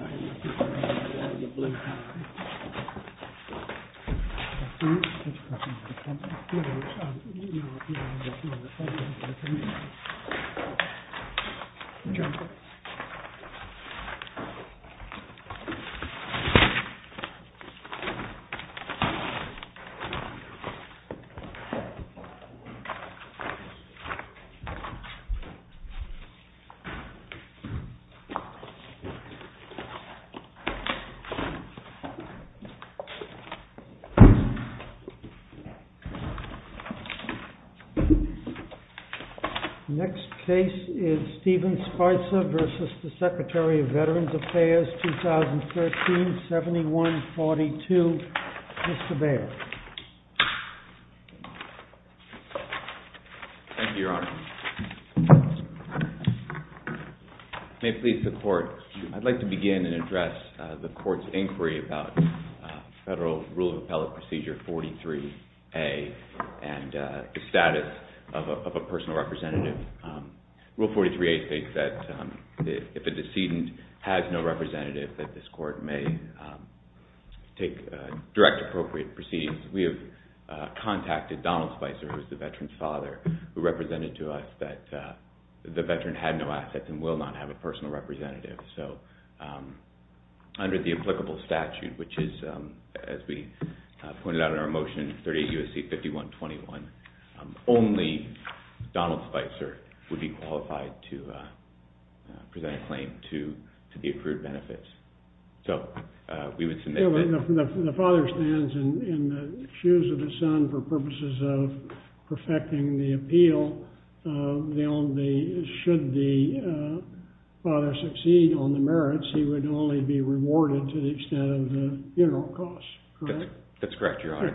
Shinseki is a Japanese prison in the northeastern part of Tokyo, Japan. Shinseki is a prison in the northeastern part of Tokyo, Japan. Next case is Steven Spicer v. Secretary of Veterans Affairs, 2013, 7142, Mr. Baird. Thank you, Your Honor. May it please the Court, I'd like to begin and address the Court's inquiry about Federal Rule of Appellate Procedure 43A and the status of a personal representative. Rule 43A states that if a decedent has no representative that this Court may take direct appropriate proceedings. We have contacted Donald Spicer, who is the veteran's father, who represented to us that the veteran had no assets and will not have a personal representative. So under the applicable statute, which is, as we pointed out in our motion, 38 U.S.C. 5121, only Donald Spicer would be qualified to present a claim to the accrued benefits. The father stands in the shoes of the son for purposes of perfecting the appeal. Should the father succeed on the merits, he would only be rewarded to the extent of the funeral costs, correct? That's correct, Your Honor.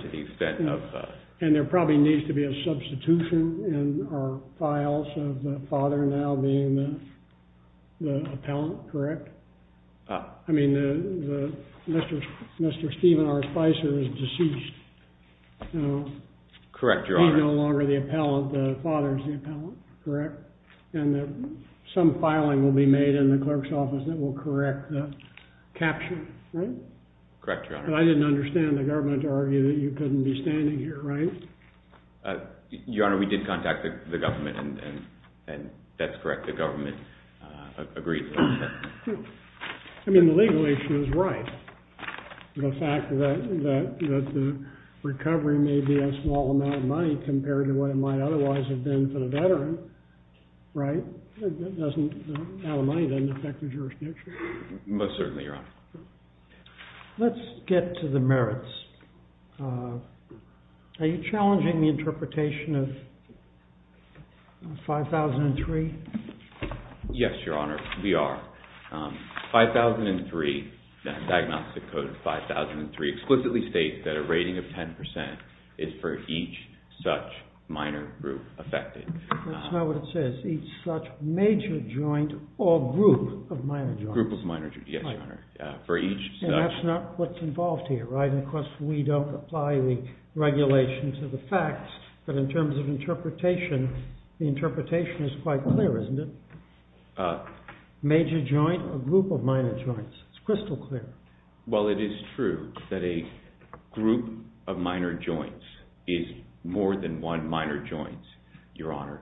And there probably needs to be a substitution in our files of the father now being the appellant, correct? I mean, Mr. Stephen R. Spicer is deceased. Correct, Your Honor. He's no longer the appellant. The father is the appellant, correct? And some filing will be made in the clerk's office that will correct that capture, right? Correct, Your Honor. But I didn't understand the government to argue that you couldn't be standing here, right? Your Honor, we did contact the government, and that's correct. The government agreed. I mean, the legal issue is right. The fact that the recovery may be a small amount of money compared to what it might otherwise have been for the veteran, right? The amount of money doesn't affect the jurisdiction. Most certainly, Your Honor. Let's get to the merits. Are you challenging the interpretation of 5003? Yes, Your Honor, we are. 5003, diagnostic code 5003, explicitly states that a rating of 10% is for each such minor group affected. That's not what it says, each such major joint or group of minor joints. Group of minor joints, yes, Your Honor. And that's not what's involved here, right? And of course, we don't apply the regulation to the facts, but in terms of interpretation, the interpretation is quite clear, isn't it? Major joint or group of minor joints, it's crystal clear. Well, it is true that a group of minor joints is more than one minor joint, Your Honor.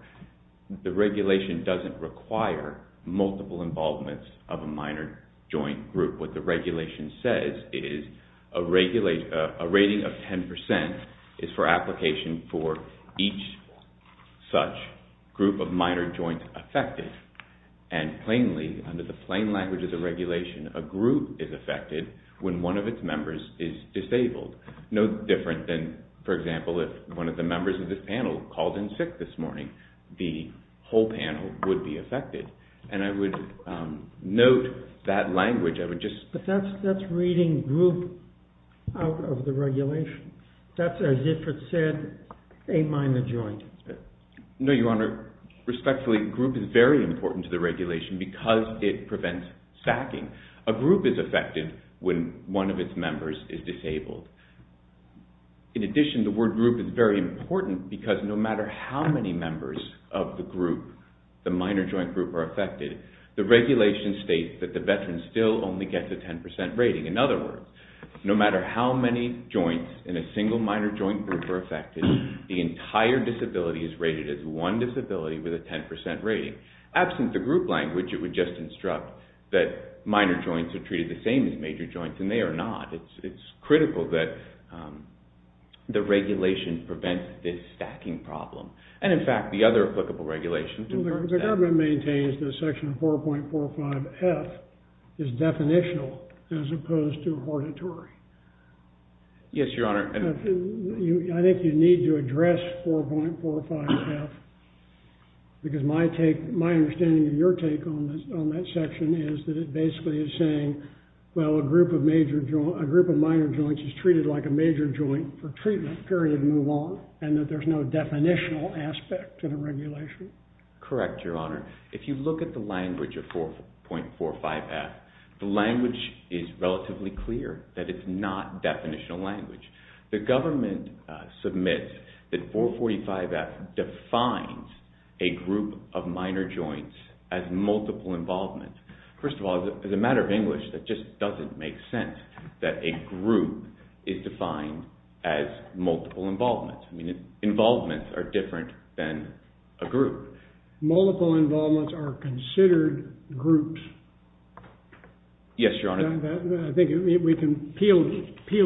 The regulation doesn't require multiple involvements of a minor joint group. What the regulation says is a rating of 10% is for application for each such group of minor joints affected. And plainly, under the plain language of the regulation, a group is affected when one of its members is disabled. No different than, for example, if one of the members of this panel called in sick this morning, the whole panel would be affected. And I would note that language. But that's reading group out of the regulation. That's as if it said a minor joint. No, Your Honor. Respectfully, group is very important to the regulation because it prevents sacking. A group is affected when one of its members is disabled. In addition, the word group is very important because no matter how many members of the group, the minor joint group, are affected, the regulation states that the veteran still only gets a 10% rating. In other words, no matter how many joints in a single minor joint group are affected, the entire disability is rated as one disability with a 10% rating. Absent the group language, it would just instruct that minor joints are treated the same as major joints, and they are not. It's critical that the regulation prevents this stacking problem. And, in fact, the other applicable regulations. The government maintains that Section 4.45F is definitional as opposed to hortatory. Yes, Your Honor. I think you need to address 4.45F because my understanding of your take on that section is that it basically is saying, well, a group of minor joints is treated like a major joint for treatment, period, move on, and that there's no definitional aspect to the regulation. Correct, Your Honor. If you look at the language of 4.45F, the language is relatively clear that it's not definitional language. The government submits that 4.45F defines a group of minor joints as multiple involvement. First of all, as a matter of English, that just doesn't make sense that a group is defined as multiple involvement. I mean, involvements are different than a group. Multiple involvements are considered groups. Yes, Your Honor. I think we can peel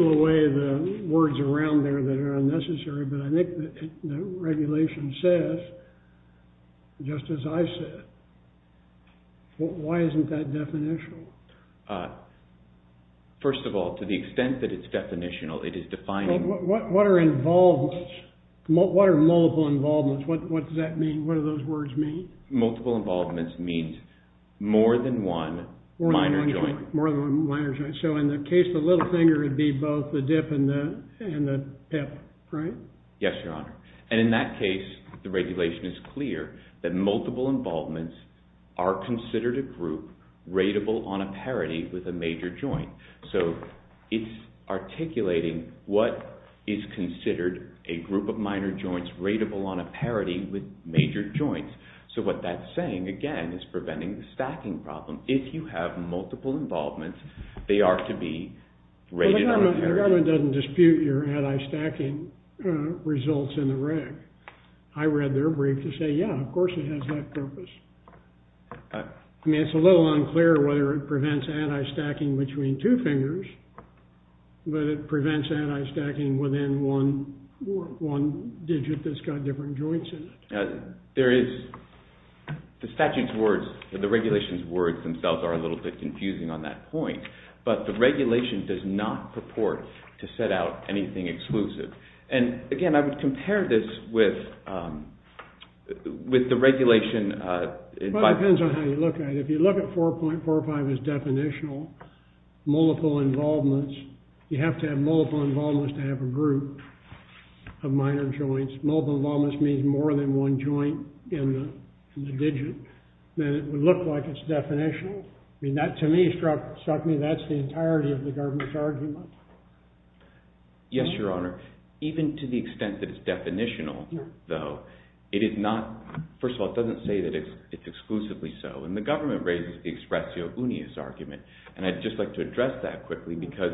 away the words around there that are unnecessary, but I think the regulation says, just as I said, why isn't that definitional? First of all, to the extent that it's definitional, it is defining— What are involvements? What are multiple involvements? What does that mean? What do those words mean? Multiple involvements means more than one minor joint. More than one minor joint. So in the case of Littlefinger, it would be both the dip and the pip, right? Yes, Your Honor. And in that case, the regulation is clear that multiple involvements are considered a group rateable on a parity with a major joint. So it's articulating what is considered a group of minor joints rateable on a parity with major joints. So what that's saying, again, is preventing the stacking problem. If you have multiple involvements, they are to be rated on a parity. The government doesn't dispute your anti-stacking results in the reg. I read their brief to say, yeah, of course it has that purpose. I mean, it's a little unclear whether it prevents anti-stacking between two fingers, but it prevents anti-stacking within one digit that's got different joints in it. The statute's words, the regulation's words themselves are a little bit confusing on that point, but the regulation does not purport to set out anything exclusive. And again, I would compare this with the regulation. Well, it depends on how you look at it. If you look at 4.45 as definitional, multiple involvements, you have to have multiple involvements to have a group of minor joints. Multiple involvements means more than one joint in the digit. Then it would look like it's definitional. I mean, that, to me, struck me that's the entirety of the government's argument. Yes, Your Honor. Even to the extent that it's definitional, though, it is not – first of all, it doesn't say that it's exclusively so. And the government raises the expressio unius argument, and I'd just like to address that quickly because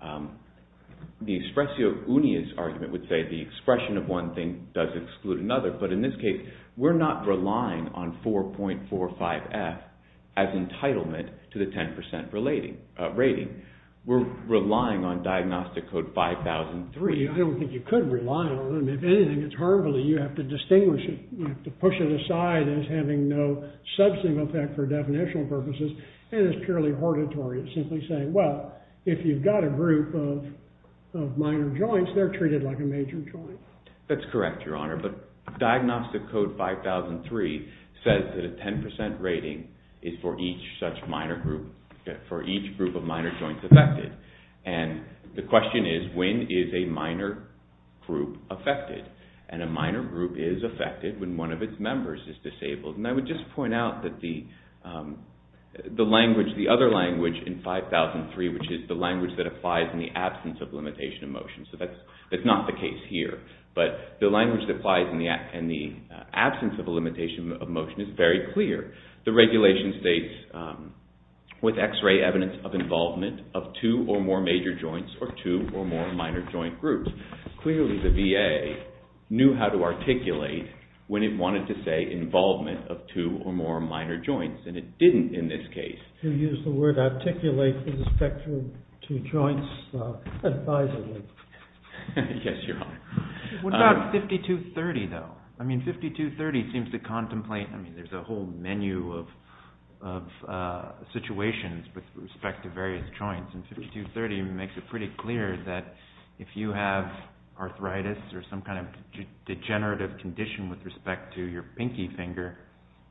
the expressio unius argument would say the expression of one thing does exclude another. But in this case, we're not relying on 4.45F as entitlement to the 10% rating. We're relying on Diagnostic Code 5003. I don't think you could rely on them. If anything, it's harmful that you have to distinguish it. You have to push it aside as having no substantive effect for definitional purposes, and it's purely hortatory. It's simply saying, well, if you've got a group of minor joints, they're treated like a major joint. That's correct, Your Honor. But Diagnostic Code 5003 says that a 10% rating is for each such minor group – for each group of minor joints affected. And the question is, when is a minor group affected? And a minor group is affected when one of its members is disabled. And I would just point out that the language – the other language in 5003, which is the language that applies in the absence of limitation of motion. So that's not the case here. But the language that applies in the absence of a limitation of motion is very clear. The regulation states, with X-ray evidence of involvement of two or more major joints or two or more minor joint groups. Clearly the VA knew how to articulate when it wanted to say involvement of two or more minor joints, and it didn't in this case. You used the word articulate with respect to joints advisably. Yes, Your Honor. What about 5230, though? I mean, 5230 seems to contemplate – I mean, there's a whole menu of situations with respect to various joints, and 5230 makes it pretty clear that if you have arthritis or some kind of degenerative condition with respect to your pinky finger,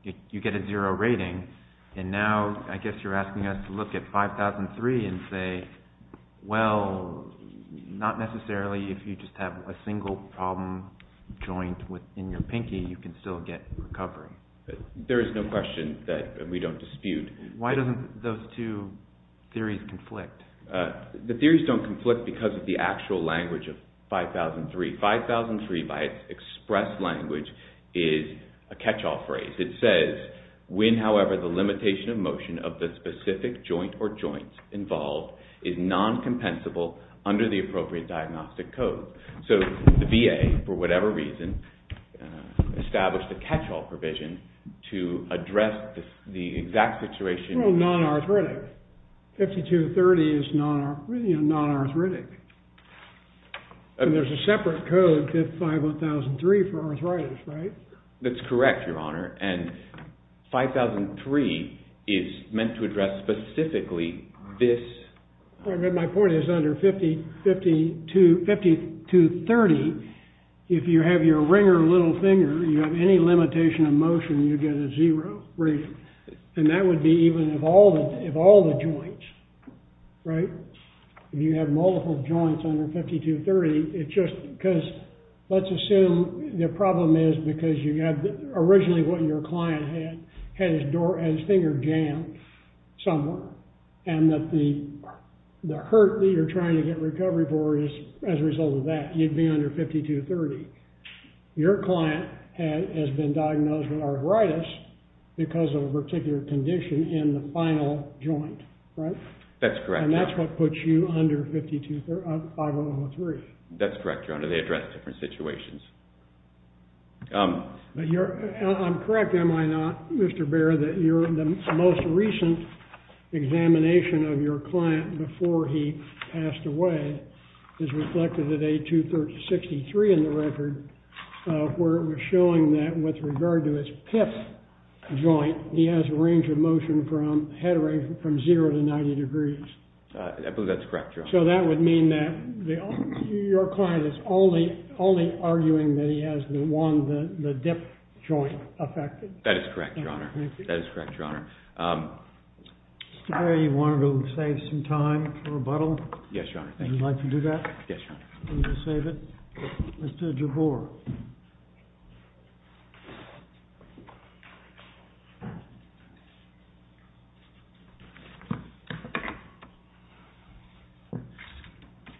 you get a zero rating. And now I guess you're asking us to look at 5003 and say, well, not necessarily if you just have a single problem joint within your pinky, you can still get recovery. There is no question that we don't dispute. Why don't those two theories conflict? The theories don't conflict because of the actual language of 5003. 5003, by its express language, is a catch-all phrase. It says, when, however, the limitation of motion of the specific joint or joints involved is non-compensable under the appropriate diagnostic code. So the VA, for whatever reason, established a catch-all provision to address the exact situation. Well, non-arthritic. 5230 is non-arthritic. And there's a separate code, 5003, for arthritis, right? That's correct, Your Honor. And 5003 is meant to address specifically this. My point is, under 5230, if you have your ringer little finger, you have any limitation of motion, you get a zero rating. And that would be even if all the joints, right? If you have multiple joints under 5230, it's just because let's assume the problem is because you had originally what your client had, had his finger jammed somewhere. And that the hurt that you're trying to get recovery for is as a result of that. You'd be under 5230. Your client has been diagnosed with arthritis because of a particular condition in the final joint, right? That's correct, Your Honor. And that's what puts you under 5003. That's correct, Your Honor. They address different situations. I'm correct, am I not, Mr. Baer, that the most recent examination of your client before he passed away is reflected at 8263 in the record, where it was showing that with regard to his PIF joint, he has a range of motion from, head range from zero to 90 degrees. I believe that's correct, Your Honor. So that would mean that your client is only arguing that he has the dip joint affected. That is correct, Your Honor. That is correct, Your Honor. Mr. Baer, you wanted to save some time for rebuttal? Yes, Your Honor. And you'd like to do that? Yes, Your Honor. You're going to save it? Yes. Mr. Jabor.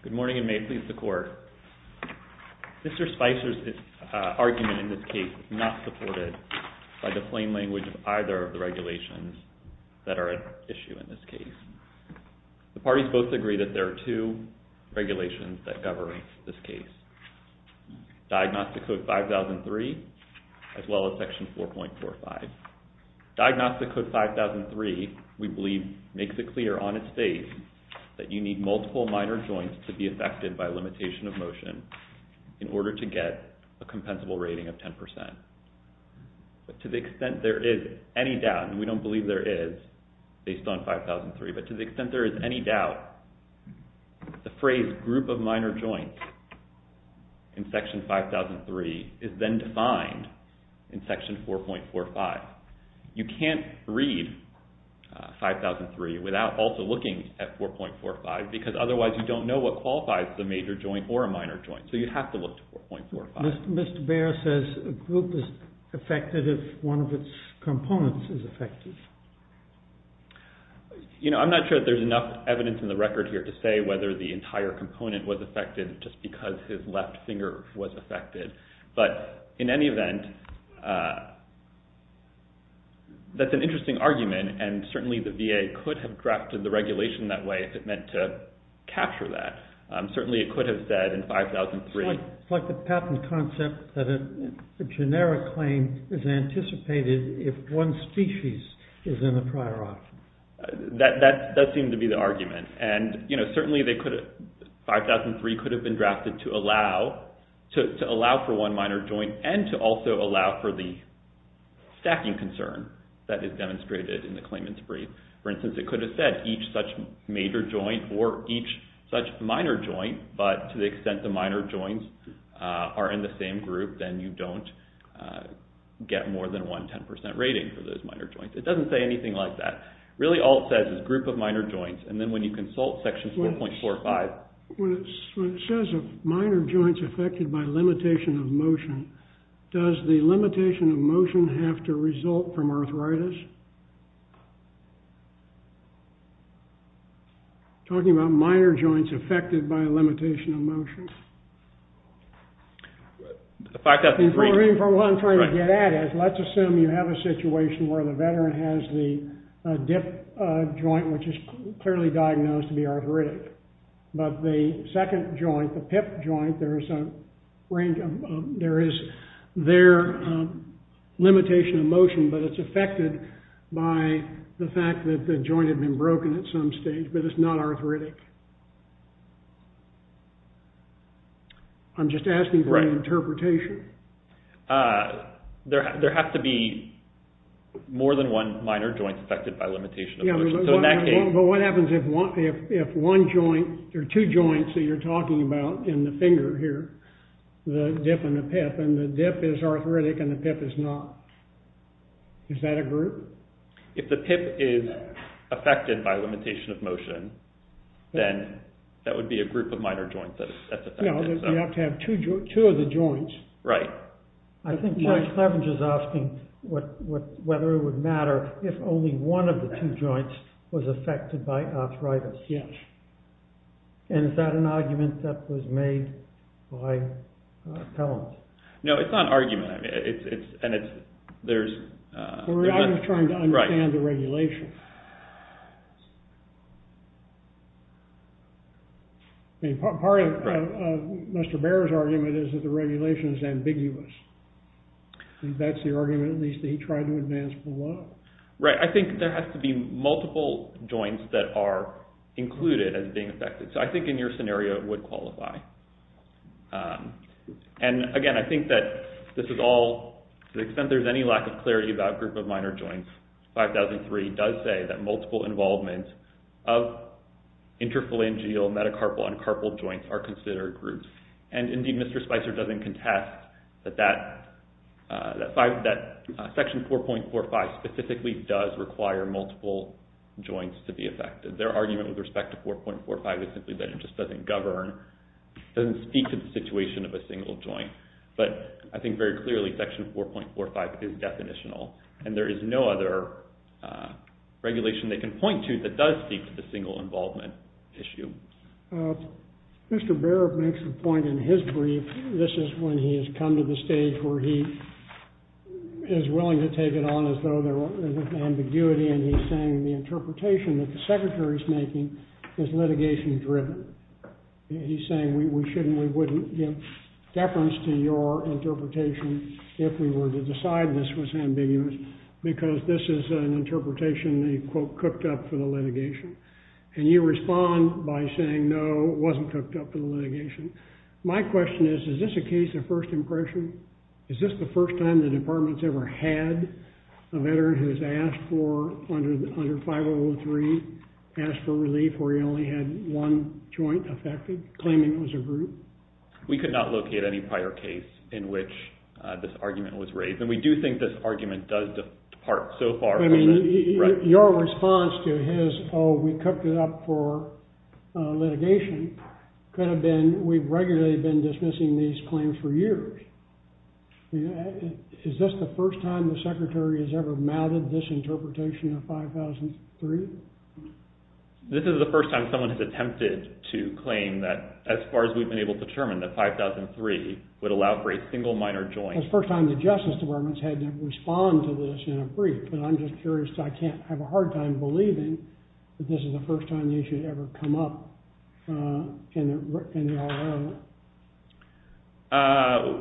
Good morning, and may it please the Court. Mr. Spicer's argument in this case is not supported by the plain language of either of the regulations that are at issue in this case. The parties both agree that there are two regulations that govern this case, Diagnostic Code 5003, as well as Section 4.45. Diagnostic Code 5003, we believe, makes it clear on its page that you need multiple minor joints to be affected by limitation of motion in order to get a compensable rating of 10%. But to the extent there is any doubt, and we don't believe there is based on 5003, but to the extent there is any doubt, the phrase group of minor joints in Section 5003 is then defined in Section 4.45. You can't read 5003 without also looking at 4.45 because otherwise you don't know what qualifies as a major joint or a minor joint, so you have to look to 4.45. Mr. Baer says a group is affected if one of its components is affected. I'm not sure that there's enough evidence in the record here to say whether the entire component was affected just because his left finger was affected. But in any event, that's an interesting argument, and certainly the VA could have drafted the regulation that way if it meant to capture that. Certainly it could have said in 5003... It's like the patent concept that a generic claim is anticipated if one species is in the prior option. That seemed to be the argument, and certainly 5003 could have been drafted to allow for one minor joint and to also allow for the stacking concern that is demonstrated in the claimant's brief. For instance, it could have said each such major joint or each such minor joint, but to the extent the minor joints are in the same group, then you don't get more than one 10% rating for those minor joints. It doesn't say anything like that. Really all it says is group of minor joints, and then when you consult Section 4.45... When it says minor joints affected by limitation of motion, does the limitation of motion have to result from arthritis? Talking about minor joints affected by limitation of motion. The fact that... What I'm trying to get at is let's assume you have a situation where the veteran has the dip joint, which is clearly diagnosed to be arthritic, but the second joint, the pip joint, there is their limitation of motion, but it's affected by the fact that the joint had been broken at some stage, but it's not arthritic. I'm just asking for an interpretation. There have to be more than one minor joint affected by limitation of motion. But what happens if one joint or two joints that you're talking about in the finger here, the dip and the pip, and the dip is arthritic and the pip is not? Is that a group? If the pip is affected by limitation of motion, then that would be a group of minor joints that's affected. No, you have to have two of the joints. Right. I think George Cleveridge is asking whether it would matter if only one of the two joints was affected by arthritis. Yes. And is that an argument that was made by Pelham? No, it's not an argument. And it's – there's – I was trying to understand the regulation. Part of Mr. Baer's argument is that the regulation is ambiguous. That's the argument that he tried to advance below. Right. I think there has to be multiple joints that are included as being affected. So I think in your scenario it would qualify. And, again, I think that this is all – to the extent there's any lack of clarity about group of minor joints, 5003 does say that multiple involvement of interphalangeal, metacarpal, and carpal joints are considered groups. And, indeed, Mr. Spicer doesn't contest that that section 4.45 specifically does require multiple joints to be affected. Their argument with respect to 4.45 is simply that it just doesn't govern, doesn't speak to the situation of a single joint. But I think very clearly section 4.45 is definitional, and there is no other regulation they can point to that does speak to the single involvement issue. Mr. Baer makes the point in his brief, this is when he has come to the stage where he is willing to take it on as though there was ambiguity, and he's saying the interpretation that the Secretary is making is litigation-driven. He's saying we shouldn't, we wouldn't give deference to your interpretation if we were to decide this was ambiguous because this is an interpretation he, quote, cooked up for the litigation. And you respond by saying, no, it wasn't cooked up for the litigation. My question is, is this a case of first impression? Is this the first time the department has ever had a veteran who has asked for, under 503, asked for relief where he only had one joint affected, claiming it was a group? We could not locate any prior case in which this argument was raised, and we do think this argument does depart so far from it. Your response to his, oh, we cooked it up for litigation, could have been we've regularly been dismissing these claims for years. Is this the first time the Secretary has ever mounted this interpretation of 5003? This is the first time someone has attempted to claim that, as far as we've been able to determine, that 5003 would allow for a single minor joint. It's the first time the Justice Department has had to respond to this in a brief, and I'm just curious, I can't have a hard time believing that this is the first time the issue has ever come up in the RO.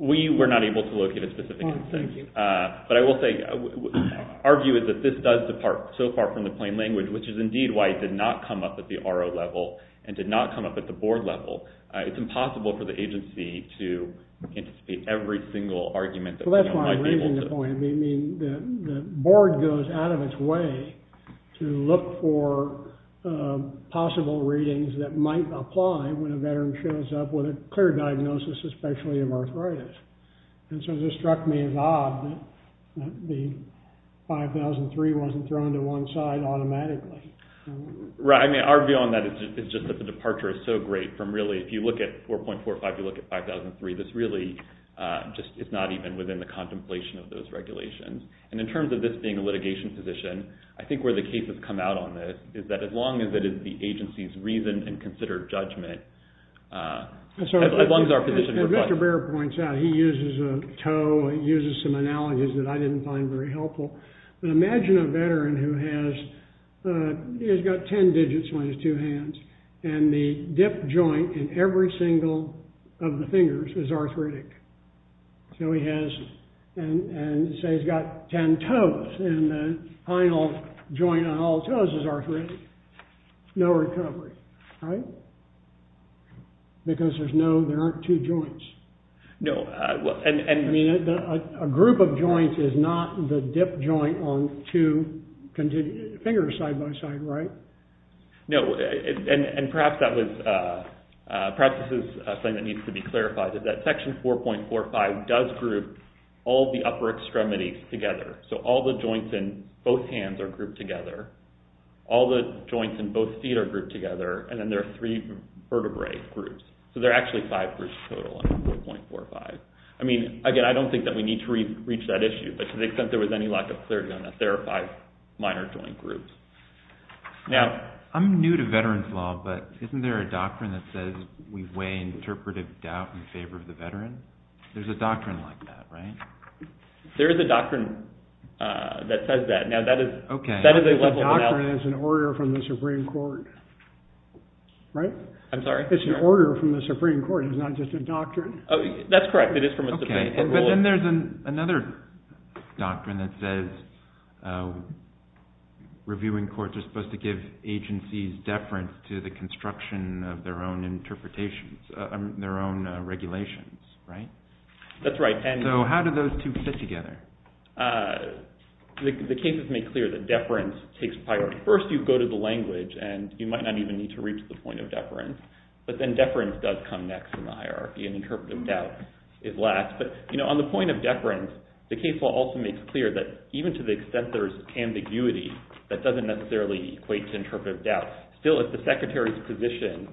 We were not able to locate a specific instance. Oh, thank you. But I will say, our view is that this does depart so far from the plain language, which is indeed why it did not come up at the RO level and did not come up at the board level. It's impossible for the agency to anticipate every single argument that we might be able to. I mean, the board goes out of its way to look for possible readings that might apply when a veteran shows up with a clear diagnosis, especially of arthritis. And so this struck me as odd that the 5003 wasn't thrown to one side automatically. Right. I mean, our view on that is just that the departure is so great from really, if you look at 4.45, you look at 5003, this really just is not even within the contemplation of those regulations. And in terms of this being a litigation position, I think where the cases come out on this is that as long as it is the agency's reason and considered judgment, as long as our position requires it. As Mr. Baird points out, he uses a toe, he uses some analogies that I didn't find very helpful. But imagine a veteran who has got ten digits on his two hands, and the dip joint in every single of the fingers is arthritic. So he has – and say he's got ten toes, and the final joint on all toes is arthritic. No recovery, right? Because there's no – there aren't two joints. No, and – I mean, a group of joints is not the dip joint on two fingers side by side, right? No, and perhaps that was – perhaps this is something that needs to be clarified, is that Section 4.45 does group all the upper extremities together. So all the joints in both hands are grouped together. All the joints in both feet are grouped together. And then there are three vertebrae groups. So there are actually five groups total in 4.45. I mean, again, I don't think that we need to reach that issue, but to the extent there was any lack of clarity on that, there are five minor joint groups. Now – I'm new to veterans' law, but isn't there a doctrine that says we weigh interpretive doubt in favor of the veteran? There's a doctrine like that, right? There is a doctrine that says that. Now, that is – Okay. That is a leveled out – I don't think the doctrine is an order from the Supreme Court, right? I'm sorry? It's an order from the Supreme Court. It's not just a doctrine. That's correct. It is from a Supreme Court rule. Okay. But then there's another doctrine that says reviewing courts are supposed to give agencies deference to the construction of their own interpretations – their own regulations, right? That's right. So how do those two fit together? The cases make clear that deference takes priority. First, you go to the language, and you might not even need to reach the point of deference. But then deference does come next in the hierarchy, and interpretive doubt is last. But on the point of deference, the case law also makes clear that even to the extent there's ambiguity, that doesn't necessarily equate to interpretive doubt. Still, if the secretary's position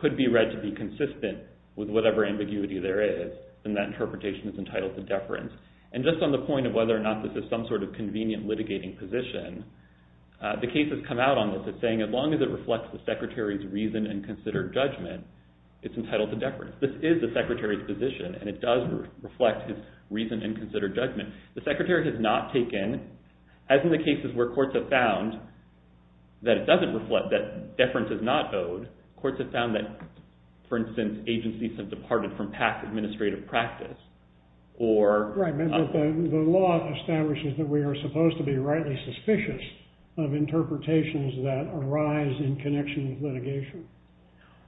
could be read to be consistent with whatever ambiguity there is, then that interpretation is entitled to deference. And just on the point of whether or not this is some sort of convenient litigating position, the case has come out on this as saying as long as it reflects the secretary's reason and considered judgment, it's entitled to deference. This is the secretary's position, and it does reflect his reason and considered judgment. The secretary has not taken – as in the cases where courts have found that it doesn't reflect, that deference is not owed, courts have found that, for instance, agencies have departed from past administrative practice. Right, but the law establishes that we are supposed to be rightly suspicious of interpretations that arise in connection with litigation.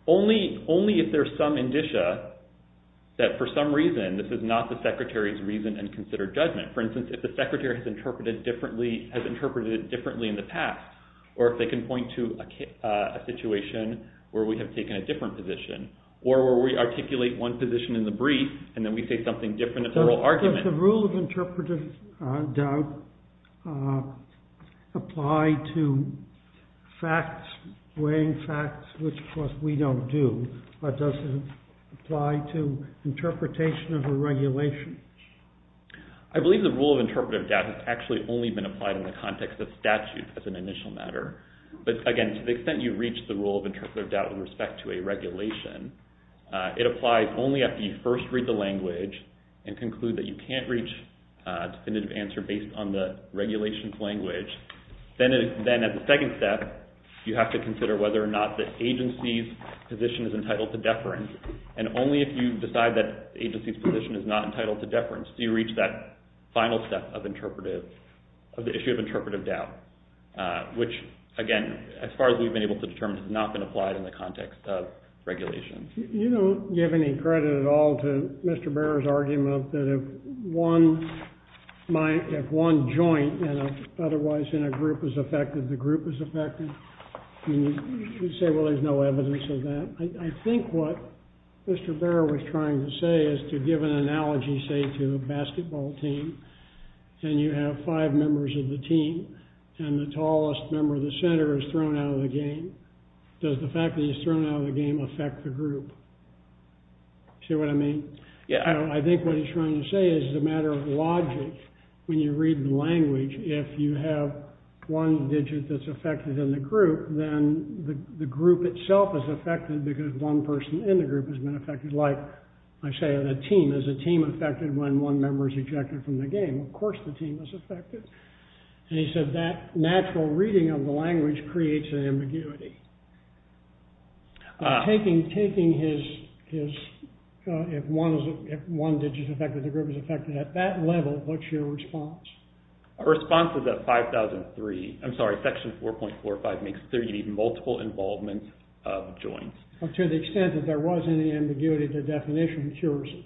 Only if there's some indicia that for some reason this is not the secretary's reason and considered judgment. For instance, if the secretary has interpreted it differently in the past, or if they can point to a situation where we have taken a different position, or where we articulate one position in the brief and then we say something different in the oral argument. Does the rule of interpretive doubt apply to facts, weighing facts, which of course we don't do, or does it apply to interpretation of a regulation? I believe the rule of interpretive doubt has actually only been applied in the context of statute as an initial matter. But again, to the extent you reach the rule of interpretive doubt in respect to a regulation, it applies only after you first read the language and conclude that you can't reach a definitive answer based on the regulation's language. Then as a second step, you have to consider whether or not the agency's position is entitled to deference. And only if you decide that the agency's position is not entitled to deference do you reach that final step of the issue of interpretive doubt, which again, as far as we've been able to determine, has not been applied in the context of regulation. You don't give any credit at all to Mr. Barrow's argument that if one joint and otherwise in a group is affected, the group is affected. You say, well, there's no evidence of that. I think what Mr. Barrow was trying to say is to give an analogy, say, to a basketball team, and you have five members of the team, and the tallest member of the center is thrown out of the game. Does the fact that he's thrown out of the game affect the group? See what I mean? I think what he's trying to say is it's a matter of logic. When you read the language, if you have one digit that's affected in the group, then the group itself is affected because one person in the group has been affected. Like I say, a team. Is a team affected when one member is ejected from the game? Of course the team is affected. And he said that natural reading of the language creates an ambiguity. Taking his, if one digit is affected, the group is affected, at that level, what's your response? Our response is at 5003. I'm sorry, section 4.45 makes clear you need multiple involvement of joints. To the extent that there was any ambiguity, the definition cures it.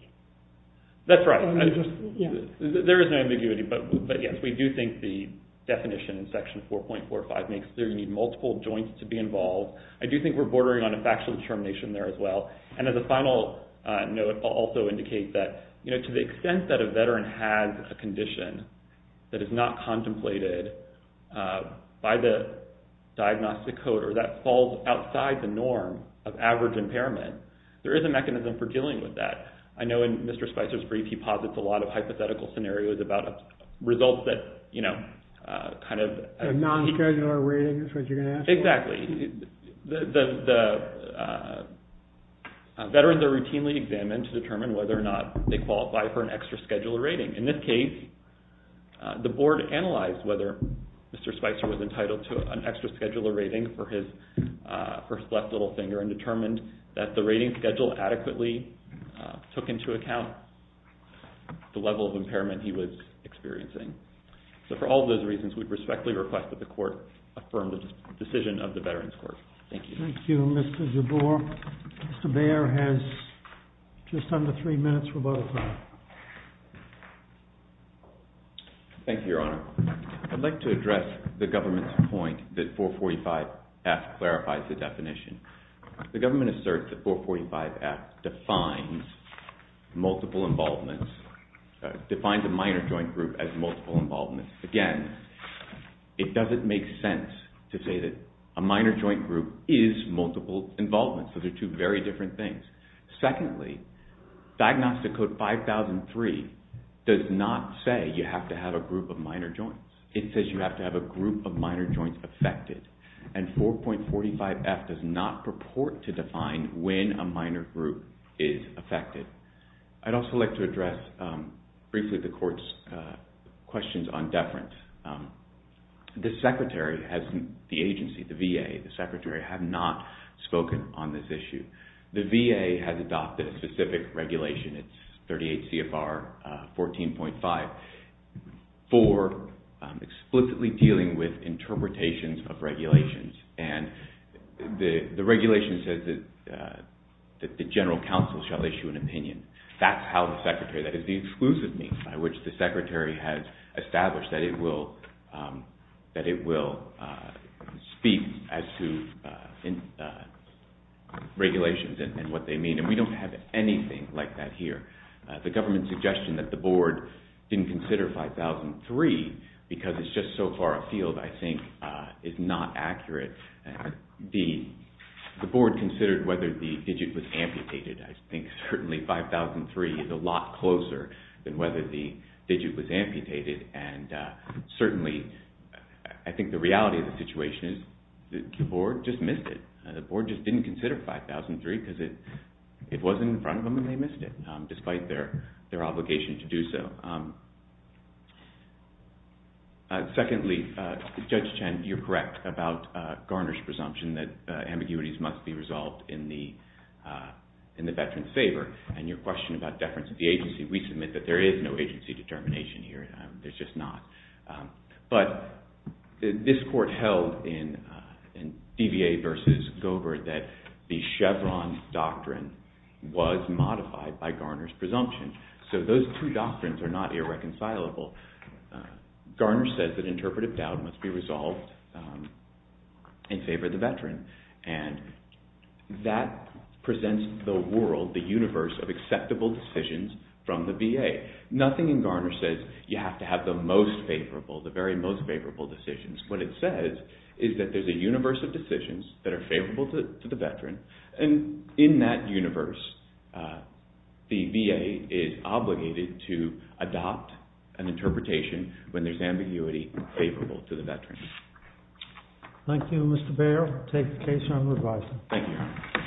That's right. There is no ambiguity, but yes, we do think the definition in section 4.45 makes clear you need multiple joints to be involved. I do think we're bordering on a factual determination there as well. And as a final note, I'll also indicate that, you know, to the extent that a veteran has a condition that is not contemplated by the diagnostic code or that falls outside the norm of average impairment, there is a mechanism for dealing with that. I know in Mr. Spicer's brief, he posits a lot of hypothetical scenarios about results that, you know, kind of- A non-schedular rating is what you're going to ask for? Exactly. The veterans are routinely examined to determine whether or not they qualify for an extra schedular rating. In this case, the board analyzed whether Mr. Spicer was entitled to an extra schedular rating for his first left little finger and determined that the rating schedule adequately took into account the level of impairment he was experiencing. So for all those reasons, we respectfully request that the court affirm the decision of the Veterans Court. Thank you. Thank you, Mr. Jabbour. Mr. Baer has just under three minutes for bullet point. Thank you, Your Honor. I'd like to address the government's point that 445F clarifies the definition. The government asserts that 445F defines multiple involvements- defines a minor joint group as multiple involvements. Again, it doesn't make sense to say that a minor joint group is multiple involvements. Those are two very different things. Secondly, Diagnostic Code 5003 does not say you have to have a group of minor joints. It says you have to have a group of minor joints affected. And 445F does not purport to define when a minor group is affected. I'd also like to address briefly the court's questions on deference. The secretary has- the agency, the VA, the secretary has not spoken on this issue. The VA has adopted a specific regulation. It's 38 CFR 14.5 for explicitly dealing with interpretations of regulations. And the regulation says that the general counsel shall issue an opinion. That's how the secretary- that is the exclusive means by which the secretary has established that it will speak as to regulations and what they mean. And we don't have anything like that here. The government's suggestion that the board didn't consider 5003 because it's just so far afield I think is not accurate. The board considered whether the digit was amputated. I think certainly 5003 is a lot closer than whether the digit was amputated. And certainly I think the reality of the situation is that the board just missed it. The board just didn't consider 5003 because it wasn't in front of them and they missed it despite their obligation to do so. Secondly, Judge Chen, you're correct about Garner's presumption that ambiguities must be resolved in the veteran's favor. And your question about deference of the agency, we submit that there is no agency determination here. There's just not. But this court held in DVA versus Govert that the Chevron doctrine was modified by Garner's presumption. So those two doctrines are not irreconcilable. Garner says that interpretive doubt must be resolved in favor of the veteran. And that presents the world, the universe of acceptable decisions from the VA. Nothing in Garner says you have to have the most favorable, the very most favorable decisions. What it says is that there's a universe of decisions that are favorable to the veteran. And in that universe, the VA is obligated to adopt an interpretation when there's ambiguity favorable to the veteran. Thank you, Mr. Baird. I'll take the case and revise it. Thank you.